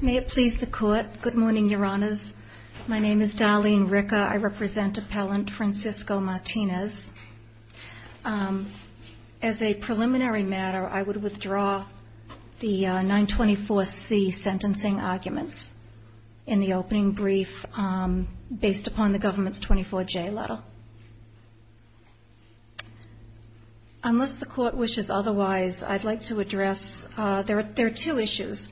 May it please the court. Good morning, your honors. My name is Darlene Ricker. I represent appellant Francisco Martinez. As a preliminary matter, I would withdraw the 924C sentencing arguments in the opening brief based upon the government's 24J letter. Unless the court wishes otherwise, I'd like to address, there are two issues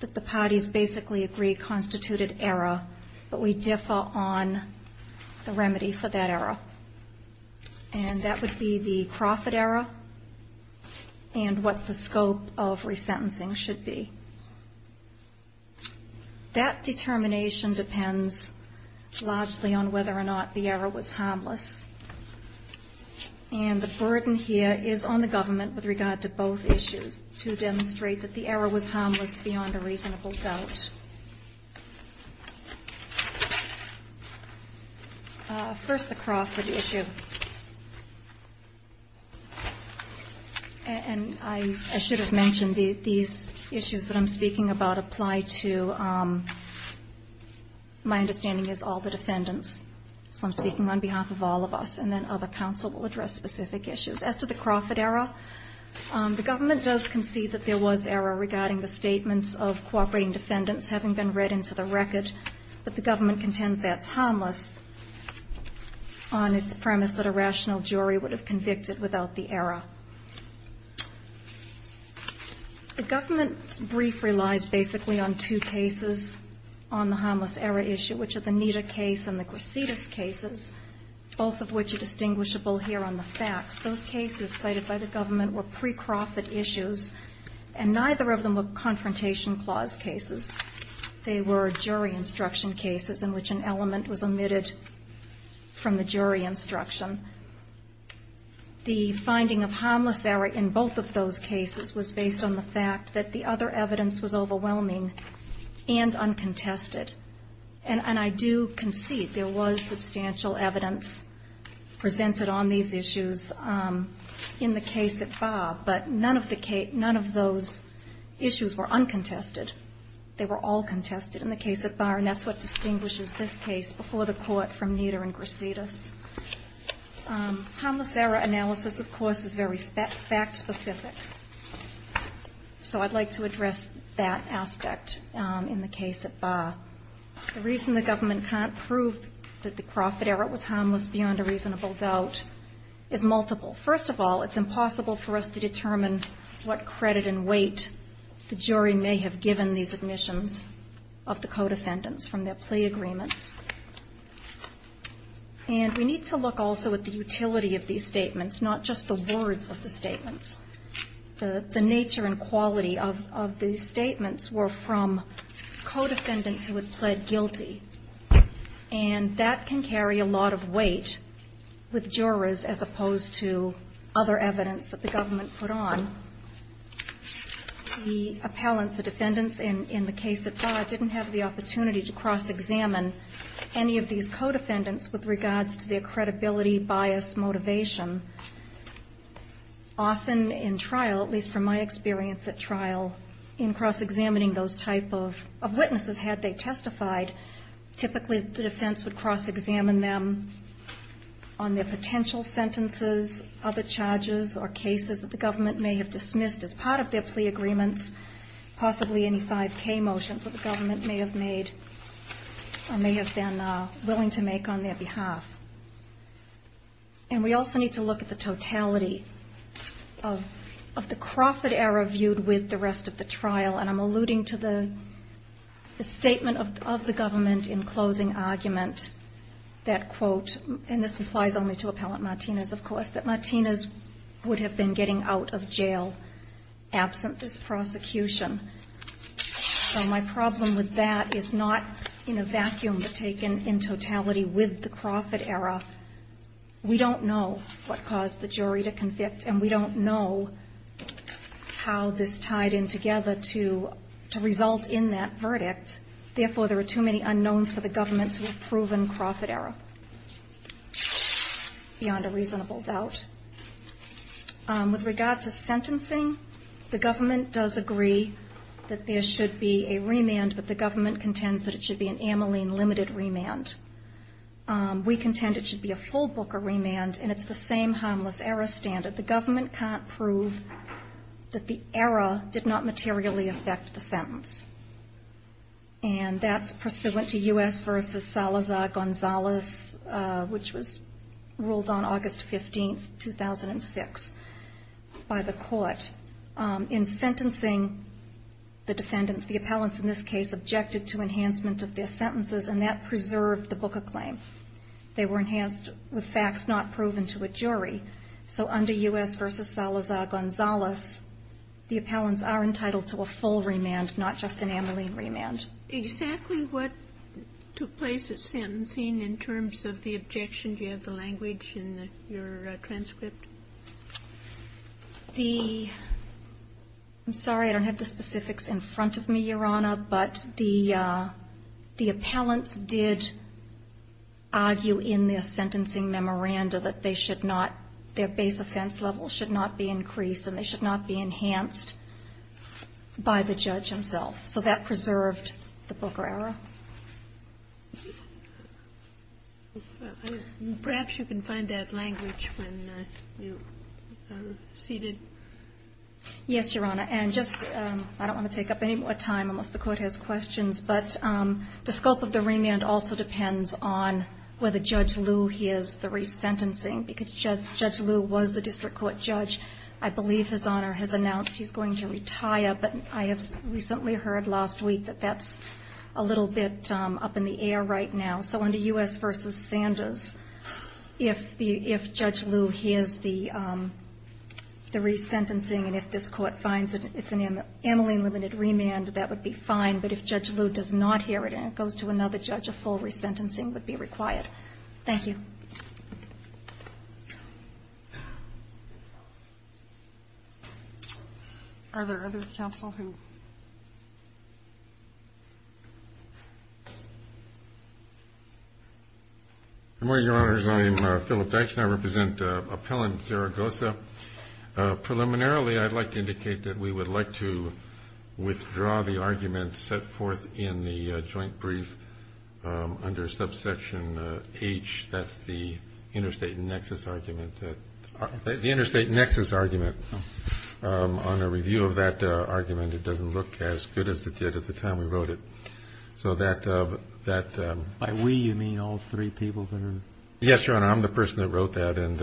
that the parties basically agree constituted error, but we differ on the remedy for that error. And that would be the profit error and what the scope of resentencing should be. That determination depends largely on whether or not the error was harmless. And the burden here is on the government with regard to both issues to demonstrate that the error was harmless beyond a reasonable doubt. First, the Crawford issue. And I should have mentioned these issues that I'm speaking about apply to, my understanding is, all the defendants. So I'm speaking on behalf of all of us. And then other counsel will address specific issues. As to the Crawford error, the government does concede that there was error regarding the statements of cooperating defendants having been read into the record. But the government contends that's harmless on its premise that a rational jury would have convicted without the error. The government's brief relies basically on two cases on the harmless error issue, which are the Nida case and the Grasidis cases, both of which are distinguishable here on the facts. Those cases cited by the government were pre-Crawford issues, and neither of them were Confrontation Clause cases. They were jury instruction cases in which an element was omitted from the jury instruction. The finding of harmless error in both of those cases was based on the fact that the other evidence was overwhelming and uncontested. And I do concede there was substantial evidence presented on these issues in the case at Barr, but none of those issues were uncontested. They were all contested in the case at Barr, and that's what distinguishes this case before the Court from Nida and Grasidis. Harmless error analysis, of course, is very fact-specific. So I'd like to address that aspect in the case at Barr. The reason the government can't prove that the Crawford error was harmless beyond a reasonable doubt is multiple. First of all, it's impossible for us to determine what credit and weight the jury may have given these admissions of the co-defendants from their plea agreements. And we need to look also at the utility of these statements, not just the words of the statements. The nature and quality of these statements were from co-defendants who had pled guilty. And that can carry a lot of weight with jurors as opposed to other evidence that the government put on. The appellants, the defendants in the case at Barr, didn't have the opportunity to cross-examine any of these co-defendants with regards to their credibility, bias, motivation. Often in trial, at least from my experience at trial, in cross-examining those type of witnesses, had they testified, typically the defense would cross-examine them on their potential sentences, other charges, or cases that the government may have dismissed as part of their plea agreements, possibly any 5K motions that the government may have made, or may have been willing to make on their behalf. And we also need to look at the totality of the Crawford error viewed with the rest of the trial. And I'm alluding to the statement of the government in closing argument that, quote, and this applies only to Appellant Martinez, of course, that Martinez would have been getting out of jail absent this prosecution. So my problem with that is not in a vacuum taken in totality with the Crawford error. We don't know what caused the jury to convict, and we don't know how this tied in together to result in that verdict. Therefore, there are too many unknowns for the government to have proven Crawford error, beyond a reasonable doubt. With regards to sentencing, the government does agree that there should be a remand, but the government contends that it should be an Ameline limited remand. We contend it should be a full Booker remand, and it's the same harmless error standard. But the government can't prove that the error did not materially affect the sentence. And that's pursuant to U.S. v. Salazar-Gonzalez, which was ruled on August 15, 2006, by the court. In sentencing the defendants, the appellants in this case objected to enhancement of their sentences, and that preserved the Booker claim. They were enhanced with facts not proven to a jury. So under U.S. v. Salazar-Gonzalez, the appellants are entitled to a full remand, not just an Ameline remand. Exactly what took place at sentencing in terms of the objection? Do you have the language in your transcript? The – I'm sorry, I don't have the specifics in front of me, Your Honor, but the appellants did argue in their sentencing memoranda that they should not – their base offense level should not be increased and they should not be enhanced by the judge himself. So that preserved the Booker error. Perhaps you can find that language when you are seated. Yes, Your Honor. And just – I don't want to take up any more time unless the Court has questions, but the scope of the remand also depends on whether Judge Liu hears the resentencing, because Judge Liu was the district court judge. I believe His Honor has announced he's going to retire, but I have recently heard last week that that's a little bit up in the air right now. So under U.S. v. Sanders, if Judge Liu hears the resentencing and if this Court finds that it's an amyling-limited remand, that would be fine. But if Judge Liu does not hear it and it goes to another judge, a full resentencing would be required. Thank you. Are there other counsel who – Good morning, Your Honors. I am Philip Dykstra. I represent Appellant Zaragoza. Preliminarily I'd like to indicate that we would like to withdraw the argument set forth in the joint brief under subsection H. That's the interstate nexus argument that – the interstate nexus argument. On a review of that argument, it doesn't look as good as it did at the time we wrote it. So that – By we, you mean all three people that are – Yes, Your Honor. I'm the person that wrote that, and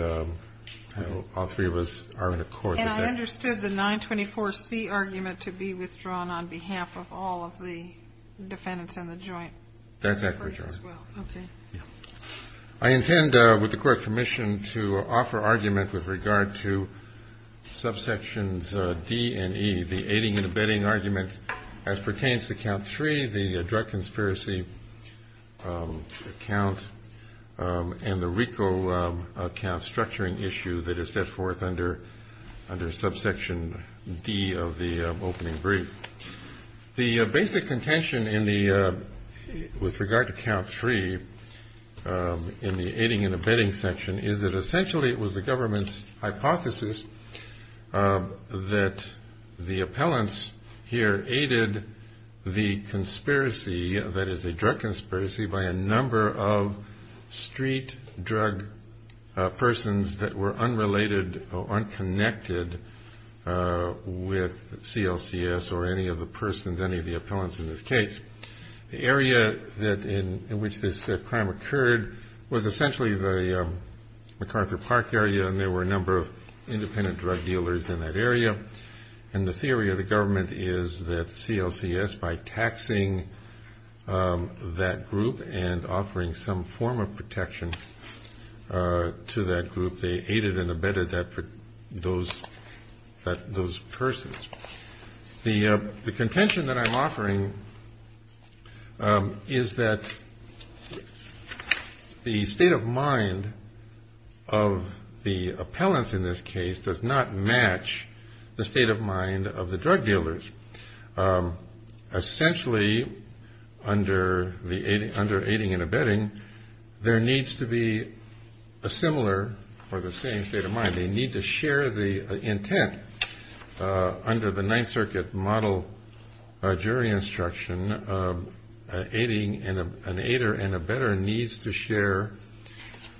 all three of us are in accord with that. And I understood the 924C argument to be withdrawn on behalf of all of the defendants in the joint. That's accurate, Your Honor. Okay. I intend, with the Court's permission, to offer argument with regard to subsections D and E, the aiding and abetting argument as pertains to count 3, the drug conspiracy account, and the RICO account structuring issue that is set forth under subsection D of the opening brief. The basic contention in the – with regard to count 3 in the aiding and abetting section is that essentially it was the government's hypothesis that the drug conspiracy by a number of street drug persons that were unrelated or unconnected with CLCS or any of the persons, any of the appellants in this case. The area that – in which this crime occurred was essentially the MacArthur Park area, and there were a number of independent drug dealers in that area. And the theory of the government is that CLCS, by taxing that group and offering some form of protection to that group, they aided and abetted those persons. The contention that I'm offering is that the state of mind of the appellants in this case does not match the state of mind of the drug dealers. Essentially, under aiding and abetting, there needs to be a similar or the same state of mind. They need to share the intent. Under the Ninth Circuit model jury instruction, an aider and abetter needs to share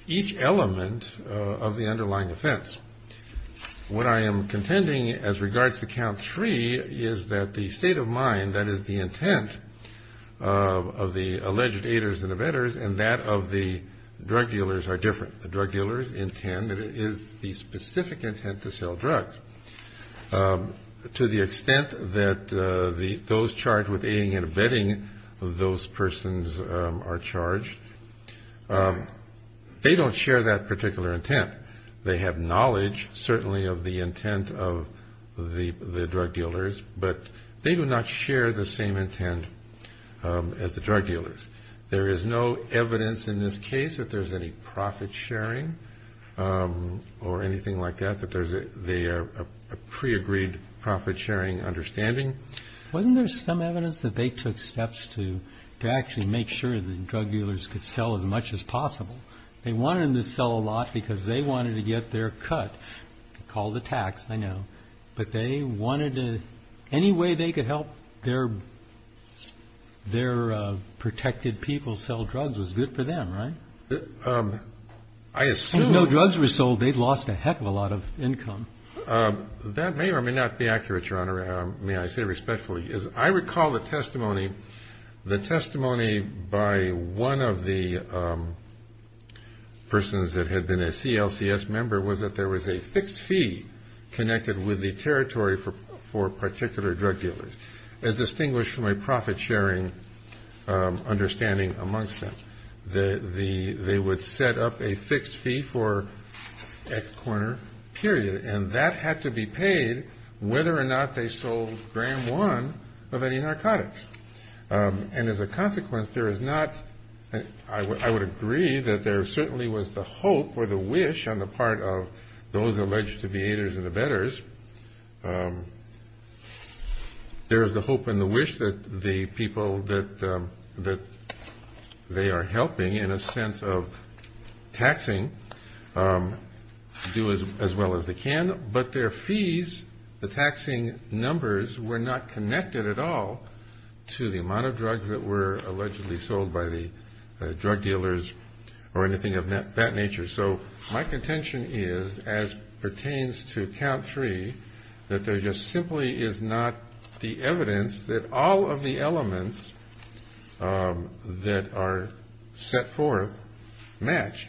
each element of the underlying offense. What I am contending as regards to Count 3 is that the state of mind, that is, the intent of the alleged aiders and abetters and that of the drug dealers are different. The drug dealers intend that it is the specific intent to sell drugs. To the extent that those charged with aiding and abetting those persons are they don't share that particular intent. They have knowledge, certainly, of the intent of the drug dealers, but they do not share the same intent as the drug dealers. There is no evidence in this case that there's any profit sharing or anything like that, that they are a pre-agreed profit sharing understanding. Kennedy. Wasn't there some evidence that they took steps to actually make sure that drug dealers could sell as much as possible? They wanted them to sell a lot because they wanted to get their cut, call the tax, I know, but they wanted to, any way they could help their protected people sell drugs was good for them, right? If no drugs were sold, they'd lost a heck of a lot of income. That may or may not be accurate, Your Honor. May I say respectfully, I recall the testimony. The testimony by one of the persons that had been a CLCS member was that there was a fixed fee connected with the territory for particular drug dealers as distinguished from a profit sharing understanding amongst them. They would set up a fixed fee for X corner, period. And that had to be paid whether or not they sold gram one of any narcotics. And as a consequence, there is not, I would agree that there certainly was the hope or the wish on the part of those alleged to be haters and the betters, there is the hope and the people that they are helping in a sense of taxing do as well as they can. But their fees, the taxing numbers were not connected at all to the amount of drugs that were allegedly sold by the drug dealers or anything of that nature. So my contention is, as pertains to count three, that there just simply is not the evidence that all of the elements that are set forth match.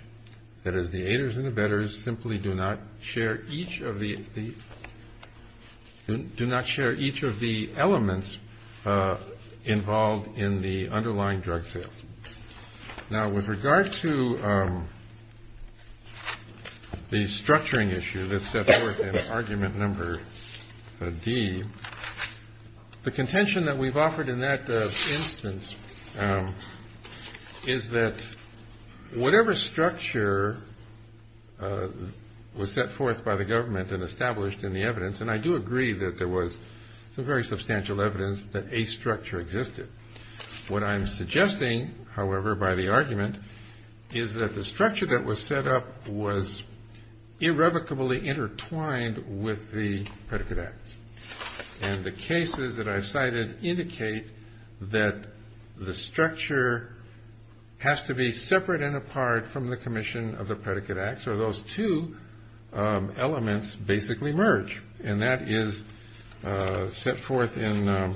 That is, the haters and the betters simply do not share each of the elements involved in the underlying drug sale. Now with regard to the structuring issue that's set forth in argument number D, the contention that we've offered in that instance is that whatever structure was set forth by the government and established in the evidence, and I do agree that there was some very substantial evidence that a structure existed. What I'm suggesting, however, by the argument is that the structure that was set up was irrevocably intertwined with the predicate acts. And the cases that I've cited indicate that the structure has to be separate and apart from the commission of the predicate acts or those two elements basically merge. And that is set forth in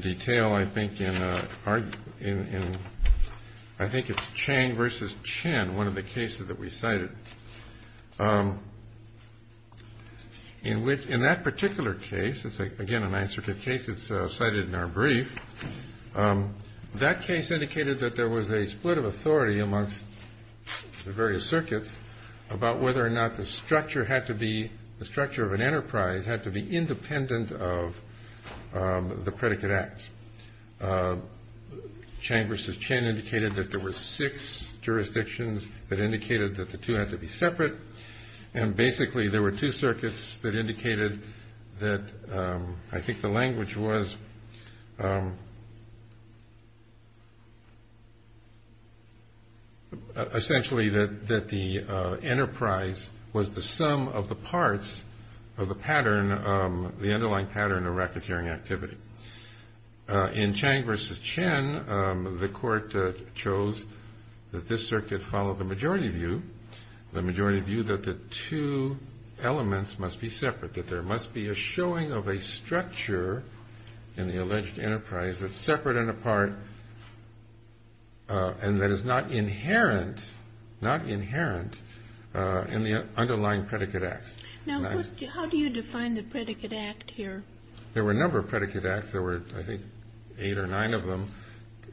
detail, I think, in I think it's Chang versus Chen, one of the cases that we cited. In that particular case, it's again an answer to a case that's cited in our brief, that case indicated that there was a split of authority amongst the various circuits about whether or not the structure had to be, the structure of an enterprise had to be independent of the predicate acts. Chang versus Chen indicated that there were six jurisdictions that indicated that the two had to be separate. And basically there were two circuits that indicated that I think the language was essentially that the enterprise was the underlying pattern of racketeering activity. In Chang versus Chen, the court chose that this circuit follow the majority view, the majority view that the two elements must be separate, that there must be a showing of a structure in the alleged enterprise that's separate and apart and that is not inherent in the underlying predicate acts. Now how do you define the predicate act here? There were a number of predicate acts. There were I think eight or nine of them,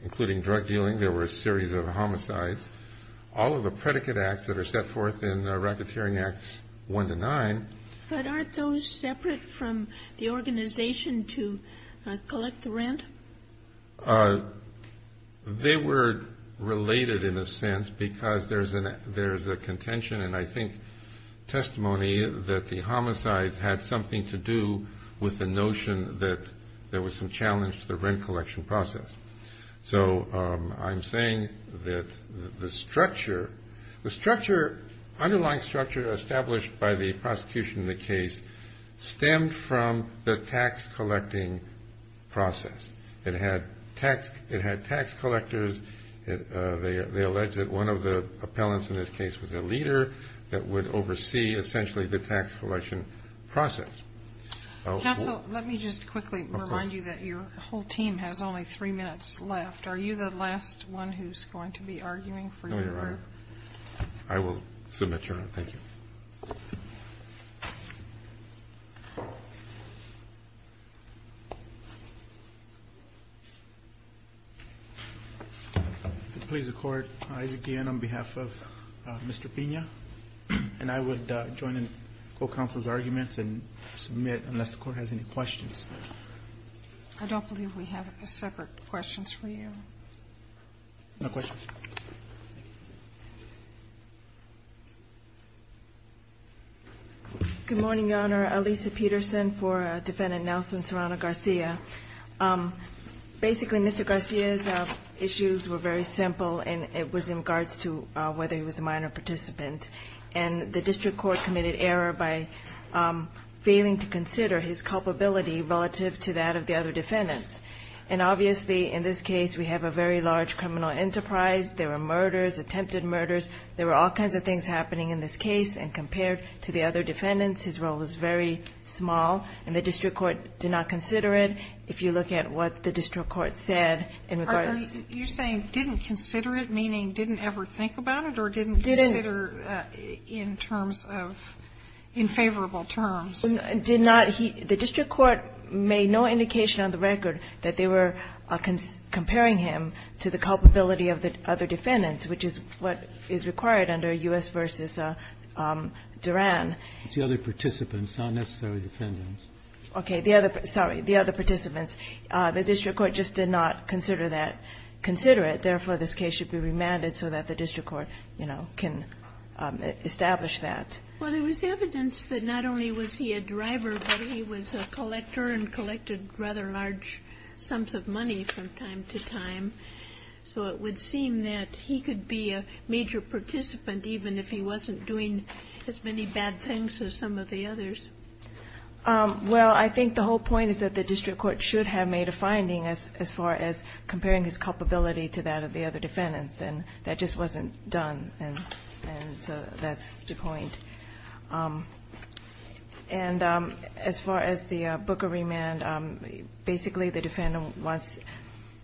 including drug dealing. There were a series of homicides. All of the predicate acts that are set forth in racketeering acts one to nine. But aren't those separate from the organization to collect the rent? They were related in a sense because there's a contention and I think testimony that the homicides had something to do with the notion that there was some challenge to the rent collection process. So I'm saying that the structure, the underlying structure established by the prosecution in the case stemmed from the tax collecting process. It had tax collectors. They alleged that one of the appellants in this case was a leader that would oversee essentially the tax collection process. Counsel, let me just quickly remind you that your whole team has only three minutes left. Are you the last one who's going to be arguing for your group? I will submit, Your Honor. Thank you. If it pleases the Court, I, again, on behalf of Mr. Pina, and I would join in co-counsel's arguments and submit unless the Court has any questions. I don't believe we have separate questions for you. No questions. Thank you. Good morning, Your Honor. Alisa Peterson for Defendant Nelson Serrano-Garcia. Basically, Mr. Garcia's issues were very simple and it was in regards to whether he was a minor participant. And the district court committed error by failing to consider his culpability relative to that of the other defendants. And obviously, in this case, we have a very large criminal enterprise. There were murders, attempted murders. There were all kinds of things happening in this case. And compared to the other defendants, his role was very small. And the district court did not consider it. If you look at what the district court said in regards to the other defendants. You're saying didn't consider it, meaning didn't ever think about it or didn't consider in terms of infavorable terms? Did not. The district court made no indication on the record that they were comparing him to the culpability of the other defendants, which is what is required under U.S. v. Duran. It's the other participants, not necessarily defendants. Okay. Sorry. The other participants. The district court just did not consider that, consider it. Therefore, this case should be remanded so that the district court, you know, can establish that. Well, there was evidence that not only was he a driver, but he was a collector and collected rather large sums of money from time to time. So it would seem that he could be a major participant even if he wasn't doing as many bad things as some of the others. Well, I think the whole point is that the district court should have made a finding as far as comparing his culpability to that of the other defendants. And that just wasn't done. And so that's the point. And as far as the Booker remand, basically the defendant wants,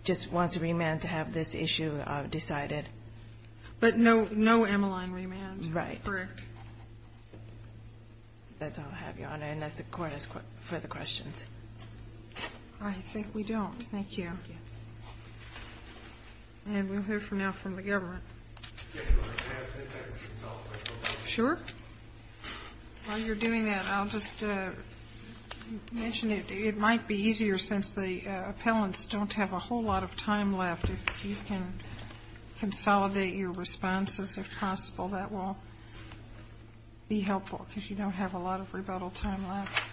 just wants a remand to have this issue decided. But no Emeline remand. Right. Correct. That's all I have, Your Honor, unless the Court has further questions. I think we don't. Thank you. Thank you. And we'll hear from now from the government. Yes, Your Honor. Can I have 10 seconds to consolidate? Sure. While you're doing that, I'll just mention it might be easier since the appellants don't have a whole lot of time left. If you can consolidate your responses, if possible, that will be helpful, because you don't have a lot of rebuttal time left.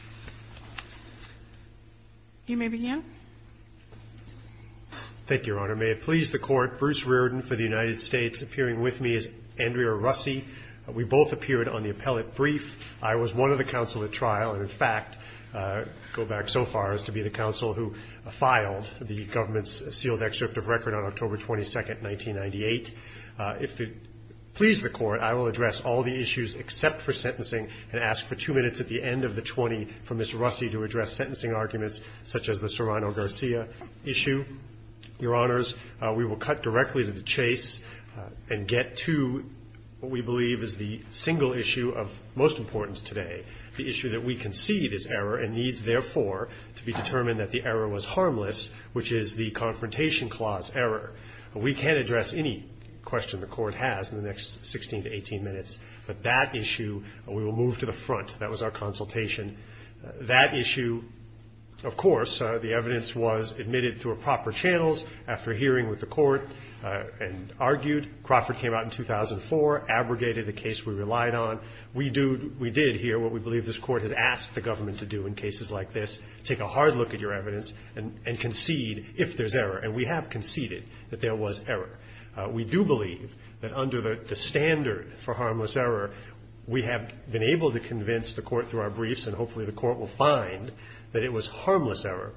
You may begin. Thank you, Your Honor. Your Honor, may it please the Court, Bruce Reardon for the United States, appearing with me is Andrea Russi. We both appeared on the appellate brief. I was one of the counsel at trial and, in fact, go back so far as to be the counsel who filed the government's sealed excerpt of record on October 22, 1998. If it please the Court, I will address all the issues except for sentencing and ask for two minutes at the end of the 20 for Ms. Russi to address sentencing arguments such as the Serrano-Garcia issue. Your Honors, we will cut directly to the chase and get to what we believe is the single issue of most importance today, the issue that we concede is error and needs, therefore, to be determined that the error was harmless, which is the Confrontation Clause error. We can't address any question the Court has in the next 16 to 18 minutes, but that issue we will move to the front. That was our consultation. That issue, of course, the evidence was admitted through a proper channels after hearing with the Court and argued. Crawford came out in 2004, abrogated the case we relied on. We did hear what we believe this Court has asked the government to do in cases like this, take a hard look at your evidence and concede if there's error, and we have conceded that there was error. We do believe that under the standard for harmless error, we have been able to convince the Court through our briefs and hopefully the Court will find that it was harmless error.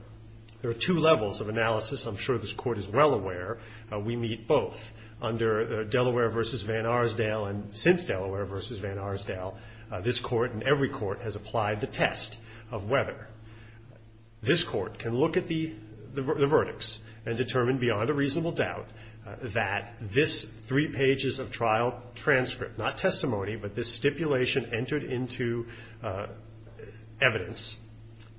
There are two levels of analysis. I'm sure this Court is well aware we meet both. Under Delaware v. Van Arsdale and since Delaware v. Van Arsdale, this Court and every Court has applied the test of whether this Court can look at the verdicts and determine beyond a reasonable doubt that this three pages of trial transcript, not testimony, but this stipulation entered into evidence,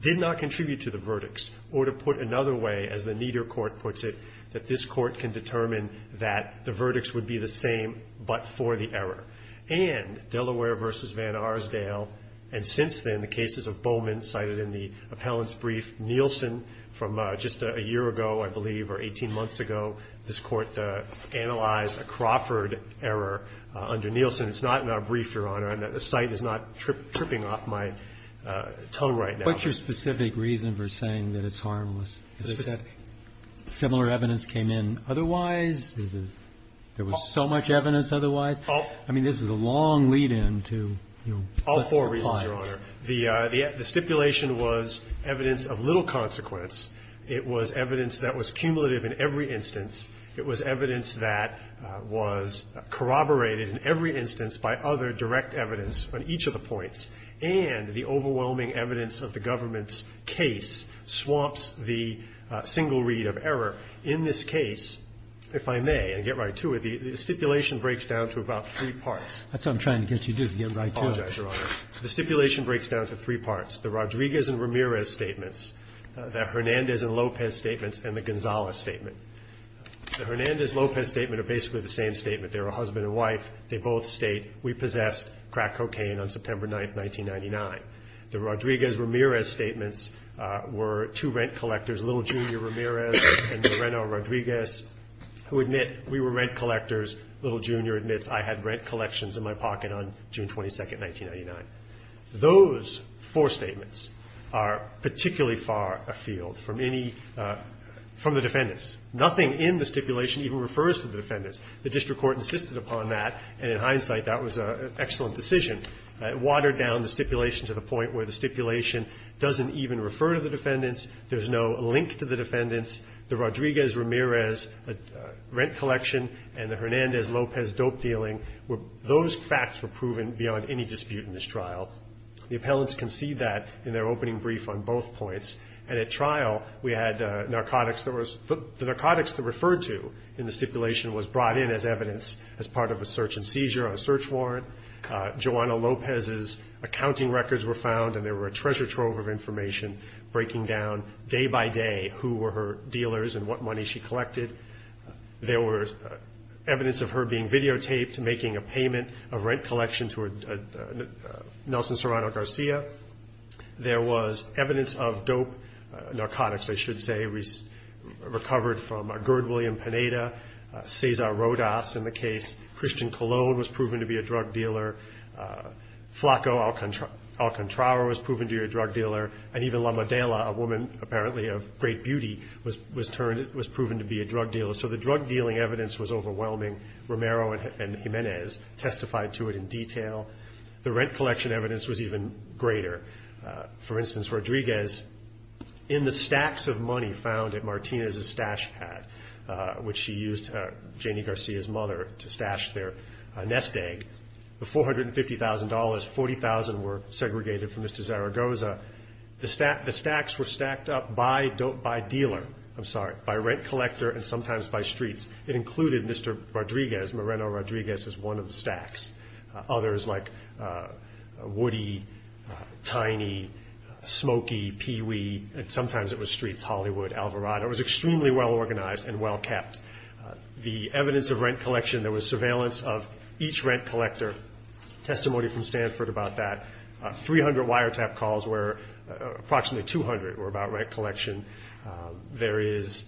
did not contribute to the verdicts or to put another way, as the Nieder Court puts it, that this Court can determine that the verdicts would be the same but for the error. And Delaware v. Van Arsdale and since then the cases of Bowman cited in the appellant's brief, Nielsen from just a year ago, I believe, or 18 months ago, this Court analyzed a Crawford error under Nielsen. It's not in our brief, Your Honor. The site is not tripping off my tongue right now. What's your specific reason for saying that it's harmless? Is it that similar evidence came in otherwise? Is it there was so much evidence otherwise? I mean, this is a long lead-in to, you know, what's implied. All four reasons, Your Honor. The stipulation was evidence of little consequence. It was evidence that was cumulative in every instance. It was evidence that was corroborated in every instance by other direct evidence on each of the points. And the overwhelming evidence of the government's case swamps the single read of error. In this case, if I may, and get right to it, the stipulation breaks down to about three parts. That's what I'm trying to get you to do, to get right to it. I apologize, Your Honor. The stipulation breaks down to three parts. The Rodriguez and Ramirez statements, the Hernandez and Lopez statements, and the Gonzales statement. The Hernandez-Lopez statement are basically the same statement. They're a husband and wife. They both state, we possessed crack cocaine on September 9, 1999. The Rodriguez-Ramirez statements were two rent collectors, Little Jr. Ramirez and Loreno Rodriguez, who admit we were rent collectors. Little Jr. admits I had rent collections in my pocket on June 22, 1999. Those four statements are particularly far afield from any of the defendants. Nothing in the stipulation even refers to the defendants. The district court insisted upon that, and in hindsight, that was an excellent decision. It watered down the stipulation to the point where the stipulation doesn't even refer to the defendants. There's no link to the defendants. The Rodriguez-Ramirez rent collection and the Hernandez-Lopez dope dealing, those facts were proven beyond any dispute in this trial. The appellants concede that in their opening brief on both points, and at trial we had the narcotics that were referred to in the stipulation was brought in as evidence as part of a search and seizure on a search warrant. Joanna Lopez's accounting records were found, and there were a treasure trove of information breaking down day by day who were her dealers and what money she collected. There was evidence of her being videotaped making a payment of rent collection to Nelson Serrano Garcia. There was evidence of dope narcotics, I should say, recovered from Gerd William Pineda, Cesar Rodas in the case, Christian Cologne was proven to be a drug dealer, Flacco Alcontrara was proven to be a drug dealer, and even La Madela, a woman apparently of great beauty, was proven to be a drug dealer. So the drug dealing evidence was overwhelming. Romero and Hernandez testified to it in detail. The rent collection evidence was even greater. For instance, Rodriguez, in the stacks of money found at Martinez's stash pad, which she used, Janie Garcia's mother, to stash their nest egg, the $450,000, 40,000 were segregated from Mr. Zaragoza. The stacks were stacked up by dealer, I'm sorry, by rent collector and sometimes by streets. It included Mr. Rodriguez, Moreno Rodriguez, as one of the stacks. Others like Woody, Tiny, Smokey, Pee Wee, and sometimes it was streets, Hollywood, Alvarado. It was extremely well organized and well kept. The evidence of rent collection, there was surveillance of each rent collector. Testimony from Sanford about that. 300 wiretap calls were, approximately 200 were about rent collection. There is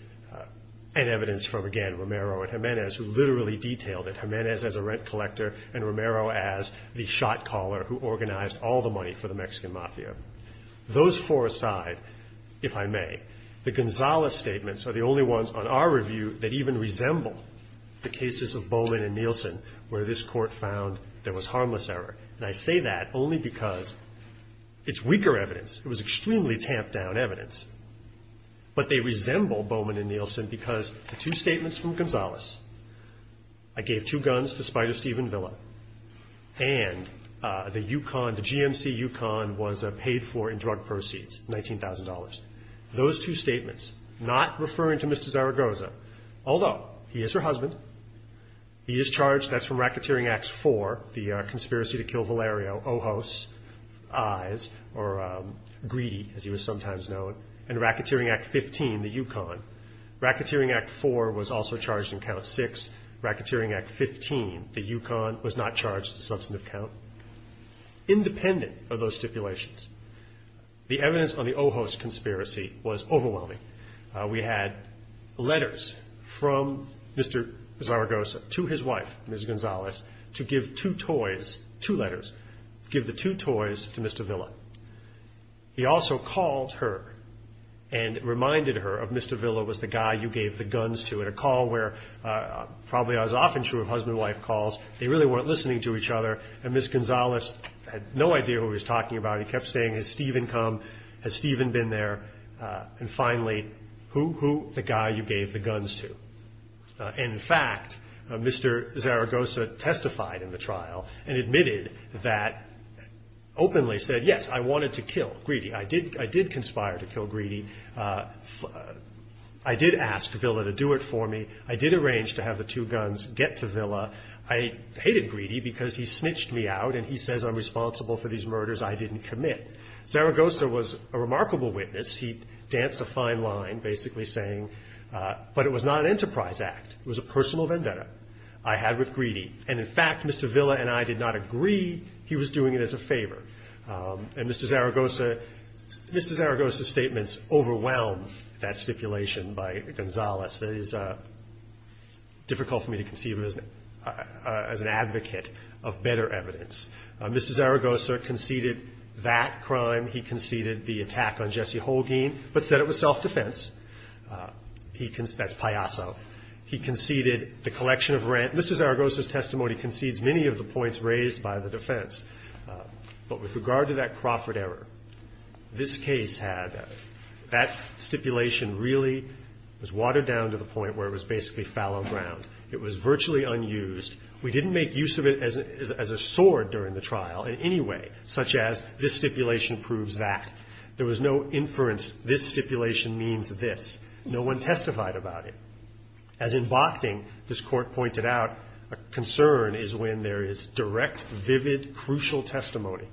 an evidence from, again, Romero and Hernandez who literally detailed it. Hernandez as a rent collector and Romero as the shot caller who organized all the money for the Mexican mafia. Those four aside, if I may, the Gonzales statements are the only ones on our review that even resemble the cases of Bowman and Nielsen where this court found there was harmless error. And I say that only because it's weaker evidence. It was extremely tamped down evidence. But they resemble Bowman and Nielsen because the two statements from Gonzales, I gave two guns to Spider Steven Villa, and the UConn, the GMC UConn was paid for in drug proceeds, $19,000. Those two statements, not referring to Mr. Zaragoza, although he is her husband, he is charged, that's from Racketeering Act 4, the conspiracy to kill Valerio, Ojos, Eyes, or Greedy as he was sometimes known, and Racketeering Act 15, the UConn. Racketeering Act 4 was also charged in Count 6. Racketeering Act 15, the UConn, was not charged in the substantive count. Independent of those stipulations, the evidence on the Ojos conspiracy was overwhelming. We had letters from Mr. Zaragoza to his wife, Ms. Gonzales, to give two toys, two letters, give the two toys to Mr. Villa. He also called her and reminded her of Mr. Villa was the guy you gave the guns to in a call where, probably as often true of husband and wife calls, they really weren't listening to each other, and Ms. Gonzales had no idea who he was talking about. He kept saying, has Stephen come? Has Stephen been there? And finally, who? The guy you gave the guns to. In fact, Mr. Zaragoza testified in the trial and admitted that, openly said, yes, I wanted to kill Greedy. I did conspire to kill Greedy. I did ask Villa to do it for me. I did arrange to have the two guns get to Villa. I hated Greedy because he snitched me out and he says I'm responsible for these murders I didn't commit. Zaragoza was a remarkable witness. He danced a fine line, basically saying, but it was not an enterprise act. It was a personal vendetta I had with Greedy. And in fact, Mr. Villa and I did not agree he was doing it as a favor. And Mr. Zaragoza's statements overwhelm that stipulation by Gonzales. It is difficult for me to conceive of him as an advocate of better evidence. Mr. Zaragoza conceded that crime. He conceded the attack on Jesse Holguin, but said it was self-defense. That's payaso. He conceded the collection of rent. Mr. Zaragoza's testimony concedes many of the points raised by the defense. But with regard to that Crawford error, this case had that stipulation really was watered down to the point where it was basically fallow ground. It was virtually unused. We didn't make use of it as a sword during the trial in any way, such as this stipulation proves that. There was no inference this stipulation means this. No one testified about it. As in Bochting, this Court pointed out, a concern is when there is direct, vivid, crucial testimony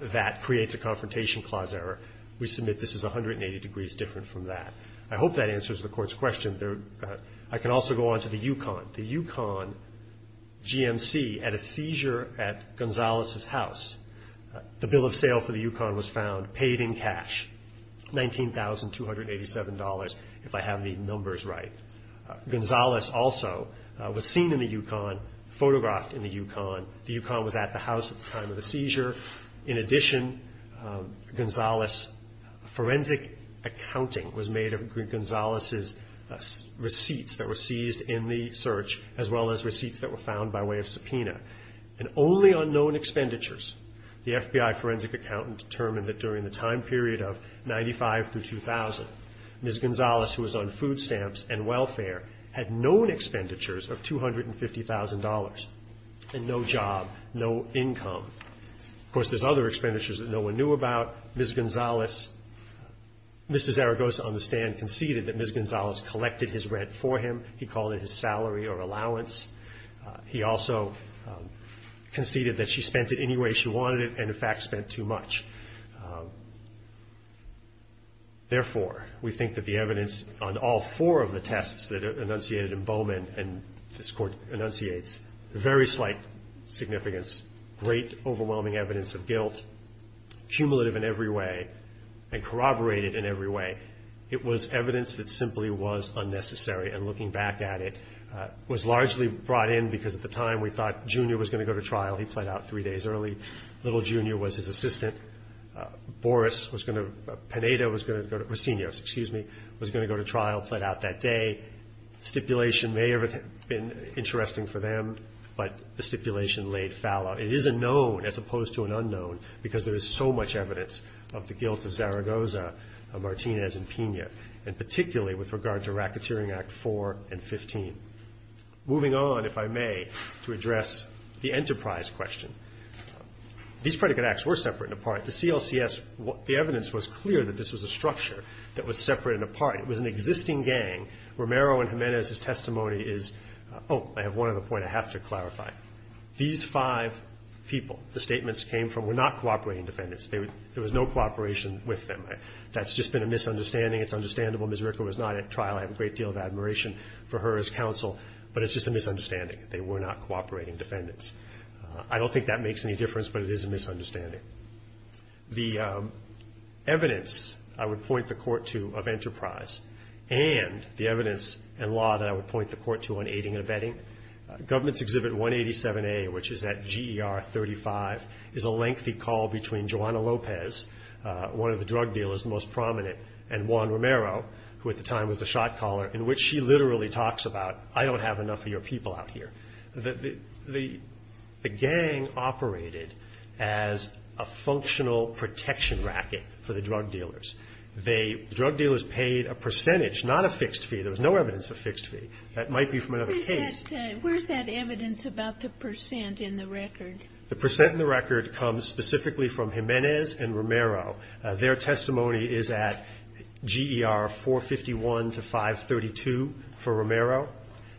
that creates a confrontation clause error. We submit this is 180 degrees different from that. I hope that answers the Court's question. I can also go on to the Yukon. The Yukon GMC had a seizure at Gonzales' house. The bill of sale for the Yukon was found, paid in cash, $19,287, if I have the numbers right. Gonzales also was seen in the Yukon, photographed in the Yukon. The Yukon was at the house at the time of the seizure. In addition, Gonzales' forensic accounting was made of Gonzales' receipts that were seized in the search, as well as receipts that were found by way of subpoena. And only on known expenditures, the FBI forensic accountant determined that during the time period of 1995 to 2000, Ms. Gonzales, who was on food stamps and welfare, had known expenditures of $250,000 and no job, no income. Of course, there's other expenditures that no one knew about. Ms. Gonzales, Mr. Zaragoza on the stand, conceded that Ms. Gonzales collected his rent for him. He called it his salary or allowance. He also conceded that she spent it any way she wanted it, and, in fact, spent too much. Therefore, we think that the evidence on all four of the tests that are enunciated in Bowman, and this Court enunciates, very slight significance, great overwhelming evidence of guilt, cumulative in every way, and corroborated in every way, it was evidence that simply was unnecessary. And looking back at it, it was largely brought in because, at the time, we thought Junior was going to go to trial. He pled out three days early. Little Junior was his assistant. Pineda was going to go to trial, pled out that day. The stipulation may have been interesting for them, but the stipulation laid fallow. It is a known, as opposed to an unknown, because there is so much evidence of the guilt of Zaragoza, Martinez, and Pineda, and particularly with regard to Racketeering Act 4 and 15. Moving on, if I may, to address the enterprise question. These predicate acts were separate and apart. The CLCS, the evidence was clear that this was a structure that was separate and apart. It was an existing gang. Romero and Jimenez's testimony is, oh, I have one other point I have to clarify. These five people, the statements came from, were not cooperating defendants. There was no cooperation with them. That's just been a misunderstanding. It's understandable. Ms. Ricker was not at trial. I have a great deal of admiration for her as counsel, but it's just a misunderstanding. They were not cooperating defendants. I don't think that makes any difference, but it is a misunderstanding. The evidence I would point the court to of enterprise and the evidence and law that I would point the court to on aiding and abetting, Government's Exhibit 187A, which is at GER 35, is a lengthy call between Joanna Lopez, one of the drug dealers, the most prominent, and Juan Romero, who at the time was the shot caller, in which she literally talks about, I don't have enough of your people out here. The gang operated as a functional protection racket for the drug dealers. The drug dealers paid a percentage, not a fixed fee. There was no evidence of fixed fee. That might be from another case. Where's that evidence about the percent in the record? The percent in the record comes specifically from Jimenez and Romero. Their testimony is at GER 451 to 532 for Romero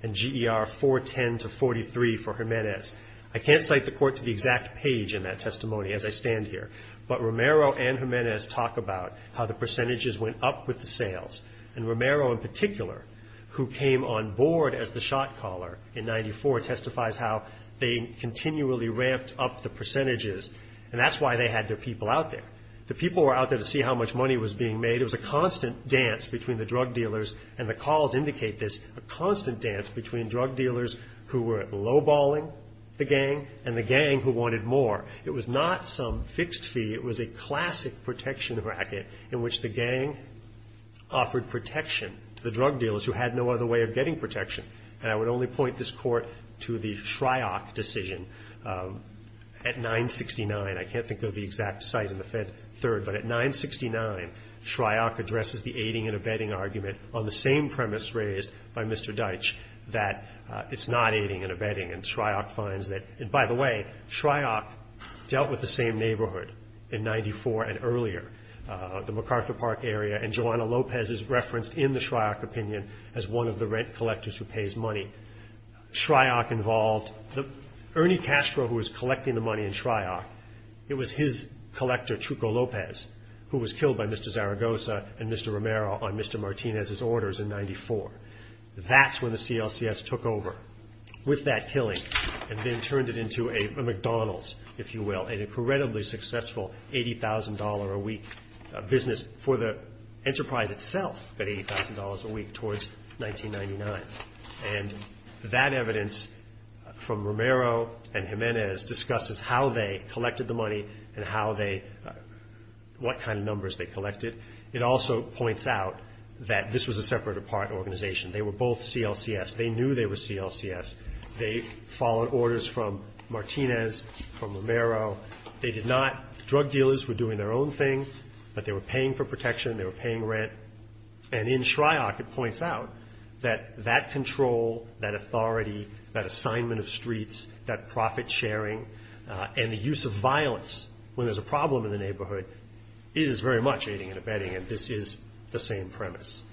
and GER 410 to 43 for Jimenez. I can't cite the court to the exact page in that testimony as I stand here, but Romero and Jimenez talk about how the percentages went up with the sales, and Romero in particular, who came on board as the shot caller in 94, testifies how they continually ramped up the percentages, and that's why they had their people out there. The people were out there to see how much money was being made. It was a constant dance between the drug dealers, and the calls indicate this, a constant dance between drug dealers who were lowballing the gang and the gang who wanted more. It was not some fixed fee. It was a classic protection racket in which the gang offered protection to the drug dealers who had no other way of getting protection, and I would only point this court to the Shryock decision at 969. I can't think of the exact site in the Fed Third, but at 969, Shryock addresses the aiding and abetting argument on the same premise raised by Mr. Deitch, that it's not aiding and abetting, and Shryock finds that, and by the way, Shryock dealt with the same neighborhood in 94 and earlier. The McArthur Park area, and Joanna Lopez is referenced in the Shryock opinion as one of the rent collectors who pays money. Shryock involved, Ernie Castro, who was collecting the money in Shryock, it was his collector, Chuco Lopez, who was killed by Mr. Zaragoza and Mr. Romero on Mr. Martinez's orders in 94. That's when the CLCS took over with that killing, and then turned it into a McDonald's, if you will, an incredibly successful $80,000 a week business for the enterprise itself at $80,000 a week towards 1999. And that evidence from Romero and Jimenez discusses how they collected the money and how they, what kind of numbers they collected. It also points out that this was a separate apart organization. They were both CLCS. They knew they were CLCS. They followed orders from Martinez, from Romero. They did not, drug dealers were doing their own thing. But they were paying for protection. They were paying rent. And in Shryock, it points out that that control, that authority, that assignment of streets, that profit sharing, and the use of violence when there's a problem in the neighborhood is very much aiding and abetting, and this is the same premise.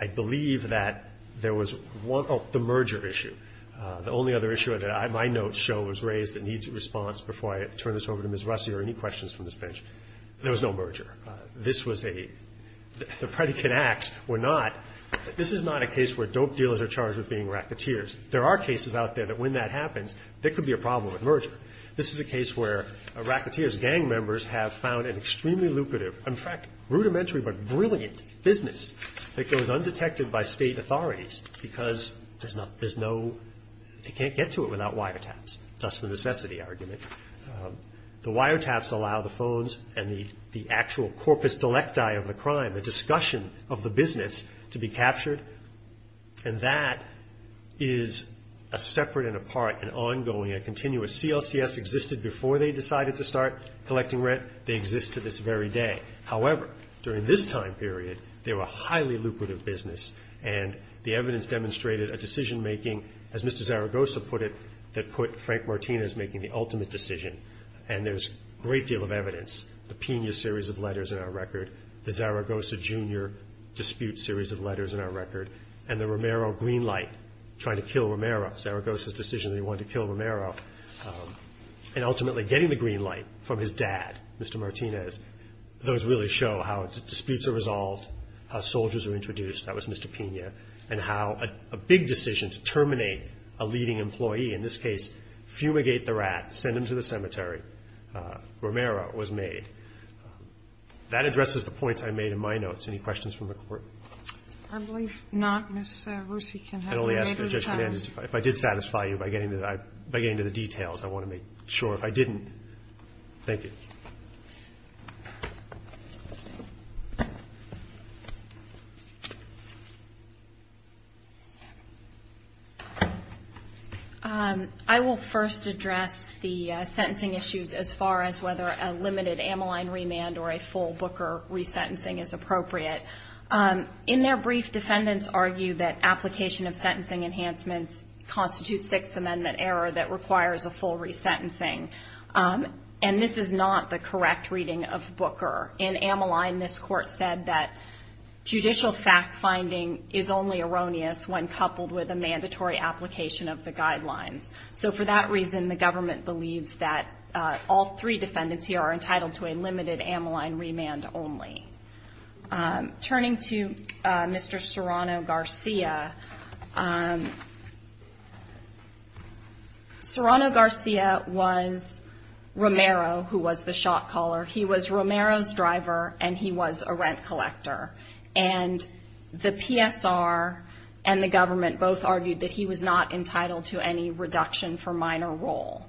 I believe that there was one, oh, the merger issue. The only other issue that my notes show was raised that needs a response before I turn this over to Ms. Russey or any questions from this bench. There was no merger. This was a, the predicate acts were not, this is not a case where dope dealers are charged with being racketeers. There are cases out there that when that happens, there could be a problem with merger. This is a case where racketeers, gang members, have found an extremely lucrative, in fact, rudimentary but brilliant business that goes undetected by state authorities because there's no, there's no, they can't get to it without wiretaps. That's the necessity argument. The wiretaps allow the phones and the actual corpus delecti of the crime, the discussion of the business to be captured, and that is a separate and apart and ongoing and continuous. CLCS existed before they decided to start collecting rent. They exist to this very day. However, during this time period, they were a highly lucrative business, and the evidence demonstrated a decision making, as Mr. Zaragoza put it, Frank Martinez making the ultimate decision, and there's a great deal of evidence, the Pena series of letters in our record, the Zaragoza Jr. dispute series of letters in our record, and the Romero green light, trying to kill Romero, Zaragoza's decision that he wanted to kill Romero, and ultimately getting the green light from his dad, Mr. Martinez. Those really show how disputes are resolved, how soldiers are introduced, that was Mr. Pena, and how a big decision to terminate a leading employee, in this case, fumigate the rat, send him to the cemetery. Romero was made. That addresses the points I made in my notes. Any questions from the Court? I believe not. Ms. Russi can have a later time. If I did satisfy you by getting to the details, I want to make sure. If I didn't, thank you. I will first address the sentencing issues as far as whether a limited Ammaline remand or a full Booker resentencing is appropriate. In their brief, defendants argue that application of sentencing enhancements constitutes Sixth Amendment error that requires a full resentencing, and this is not the correct reading of Booker. In Ammaline, this Court said that judicial fact-finding is only erroneous when coupled with a mandatory application of the guidelines. So, for that reason, the government believes that all three defendants here are entitled to a limited Ammaline remand only. Turning to Mr. Serrano-Garcia, Serrano-Garcia was Romero, who was the shot caller. He was Romero's driver, and he was a rent collector. And the PSR and the government both argued that he was not entitled to any reduction for minor role.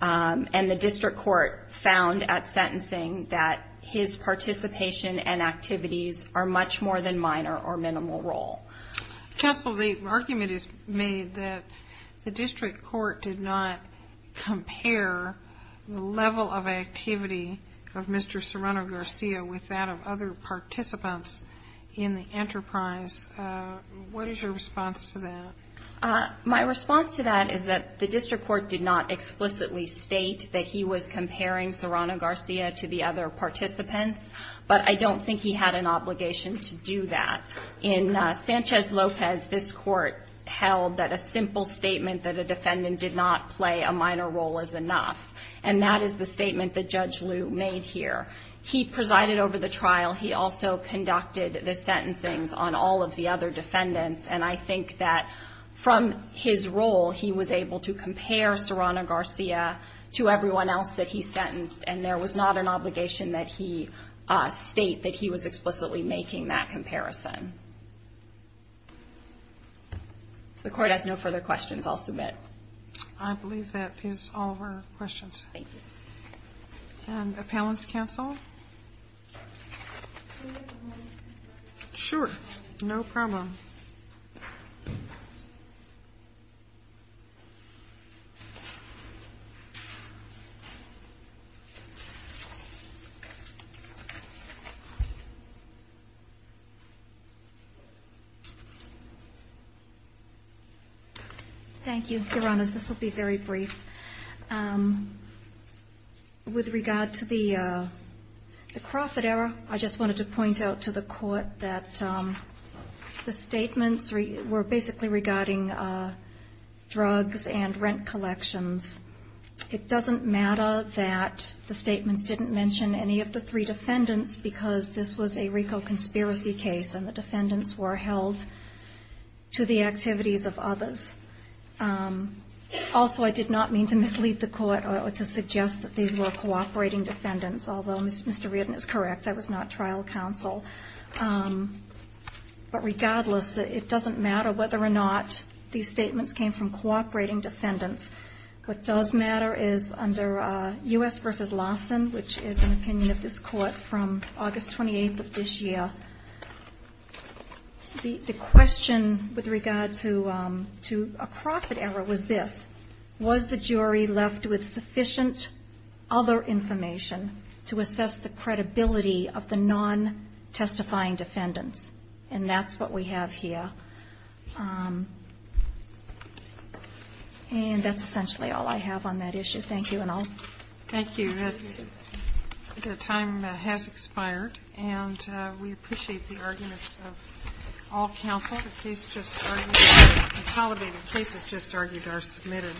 And the district court found at sentencing that his participation and activities are much more than minor or minimal role. Counsel, the argument is made that the district court did not compare the level of activity of Mr. Serrano-Garcia with that of other participants in the enterprise. What is your response to that? My response to that is that the district court did not explicitly state that he was comparing Serrano-Garcia to the other participants, but I don't think he had an obligation to do that. In Sanchez-Lopez, this Court held that a simple statement that a defendant did not play a minor role is enough. And that is the statement that Judge Liu made here. He presided over the trial. He also conducted the sentencing on all of the other defendants. And I think that from his role, he was able to compare Serrano-Garcia to everyone else that he sentenced, and there was not an obligation that he state that he was explicitly making that comparison. If the Court has no further questions, I'll submit. I believe that is all of our questions. Thank you. And appellants, counsel? Sure. No problem. Thank you, Your Honors. This will be very brief. With regard to the Crawford error, the statements were basically regarding drugs and rent collections. It doesn't matter that the statements didn't mention any of the three defendants because this was a RICO conspiracy case, and the defendants were held to the activities of others. Also, I did not mean to mislead the Court or to suggest that these were cooperating defendants, although Mr. Reardon is correct. That was not trial counsel. But regardless, it doesn't matter whether or not these statements came from cooperating defendants. What does matter is under U.S. v. Lawson, which is an opinion of this Court from August 28th of this year, the question with regard to a Crawford error was this. Was the jury left with sufficient other information to assess the credibility of the non-testifying defendants? And that's what we have here. And that's essentially all I have on that issue. Thank you. Thank you. The time has expired, and we appreciate the arguments of all counsel. The cases just argued are submitted.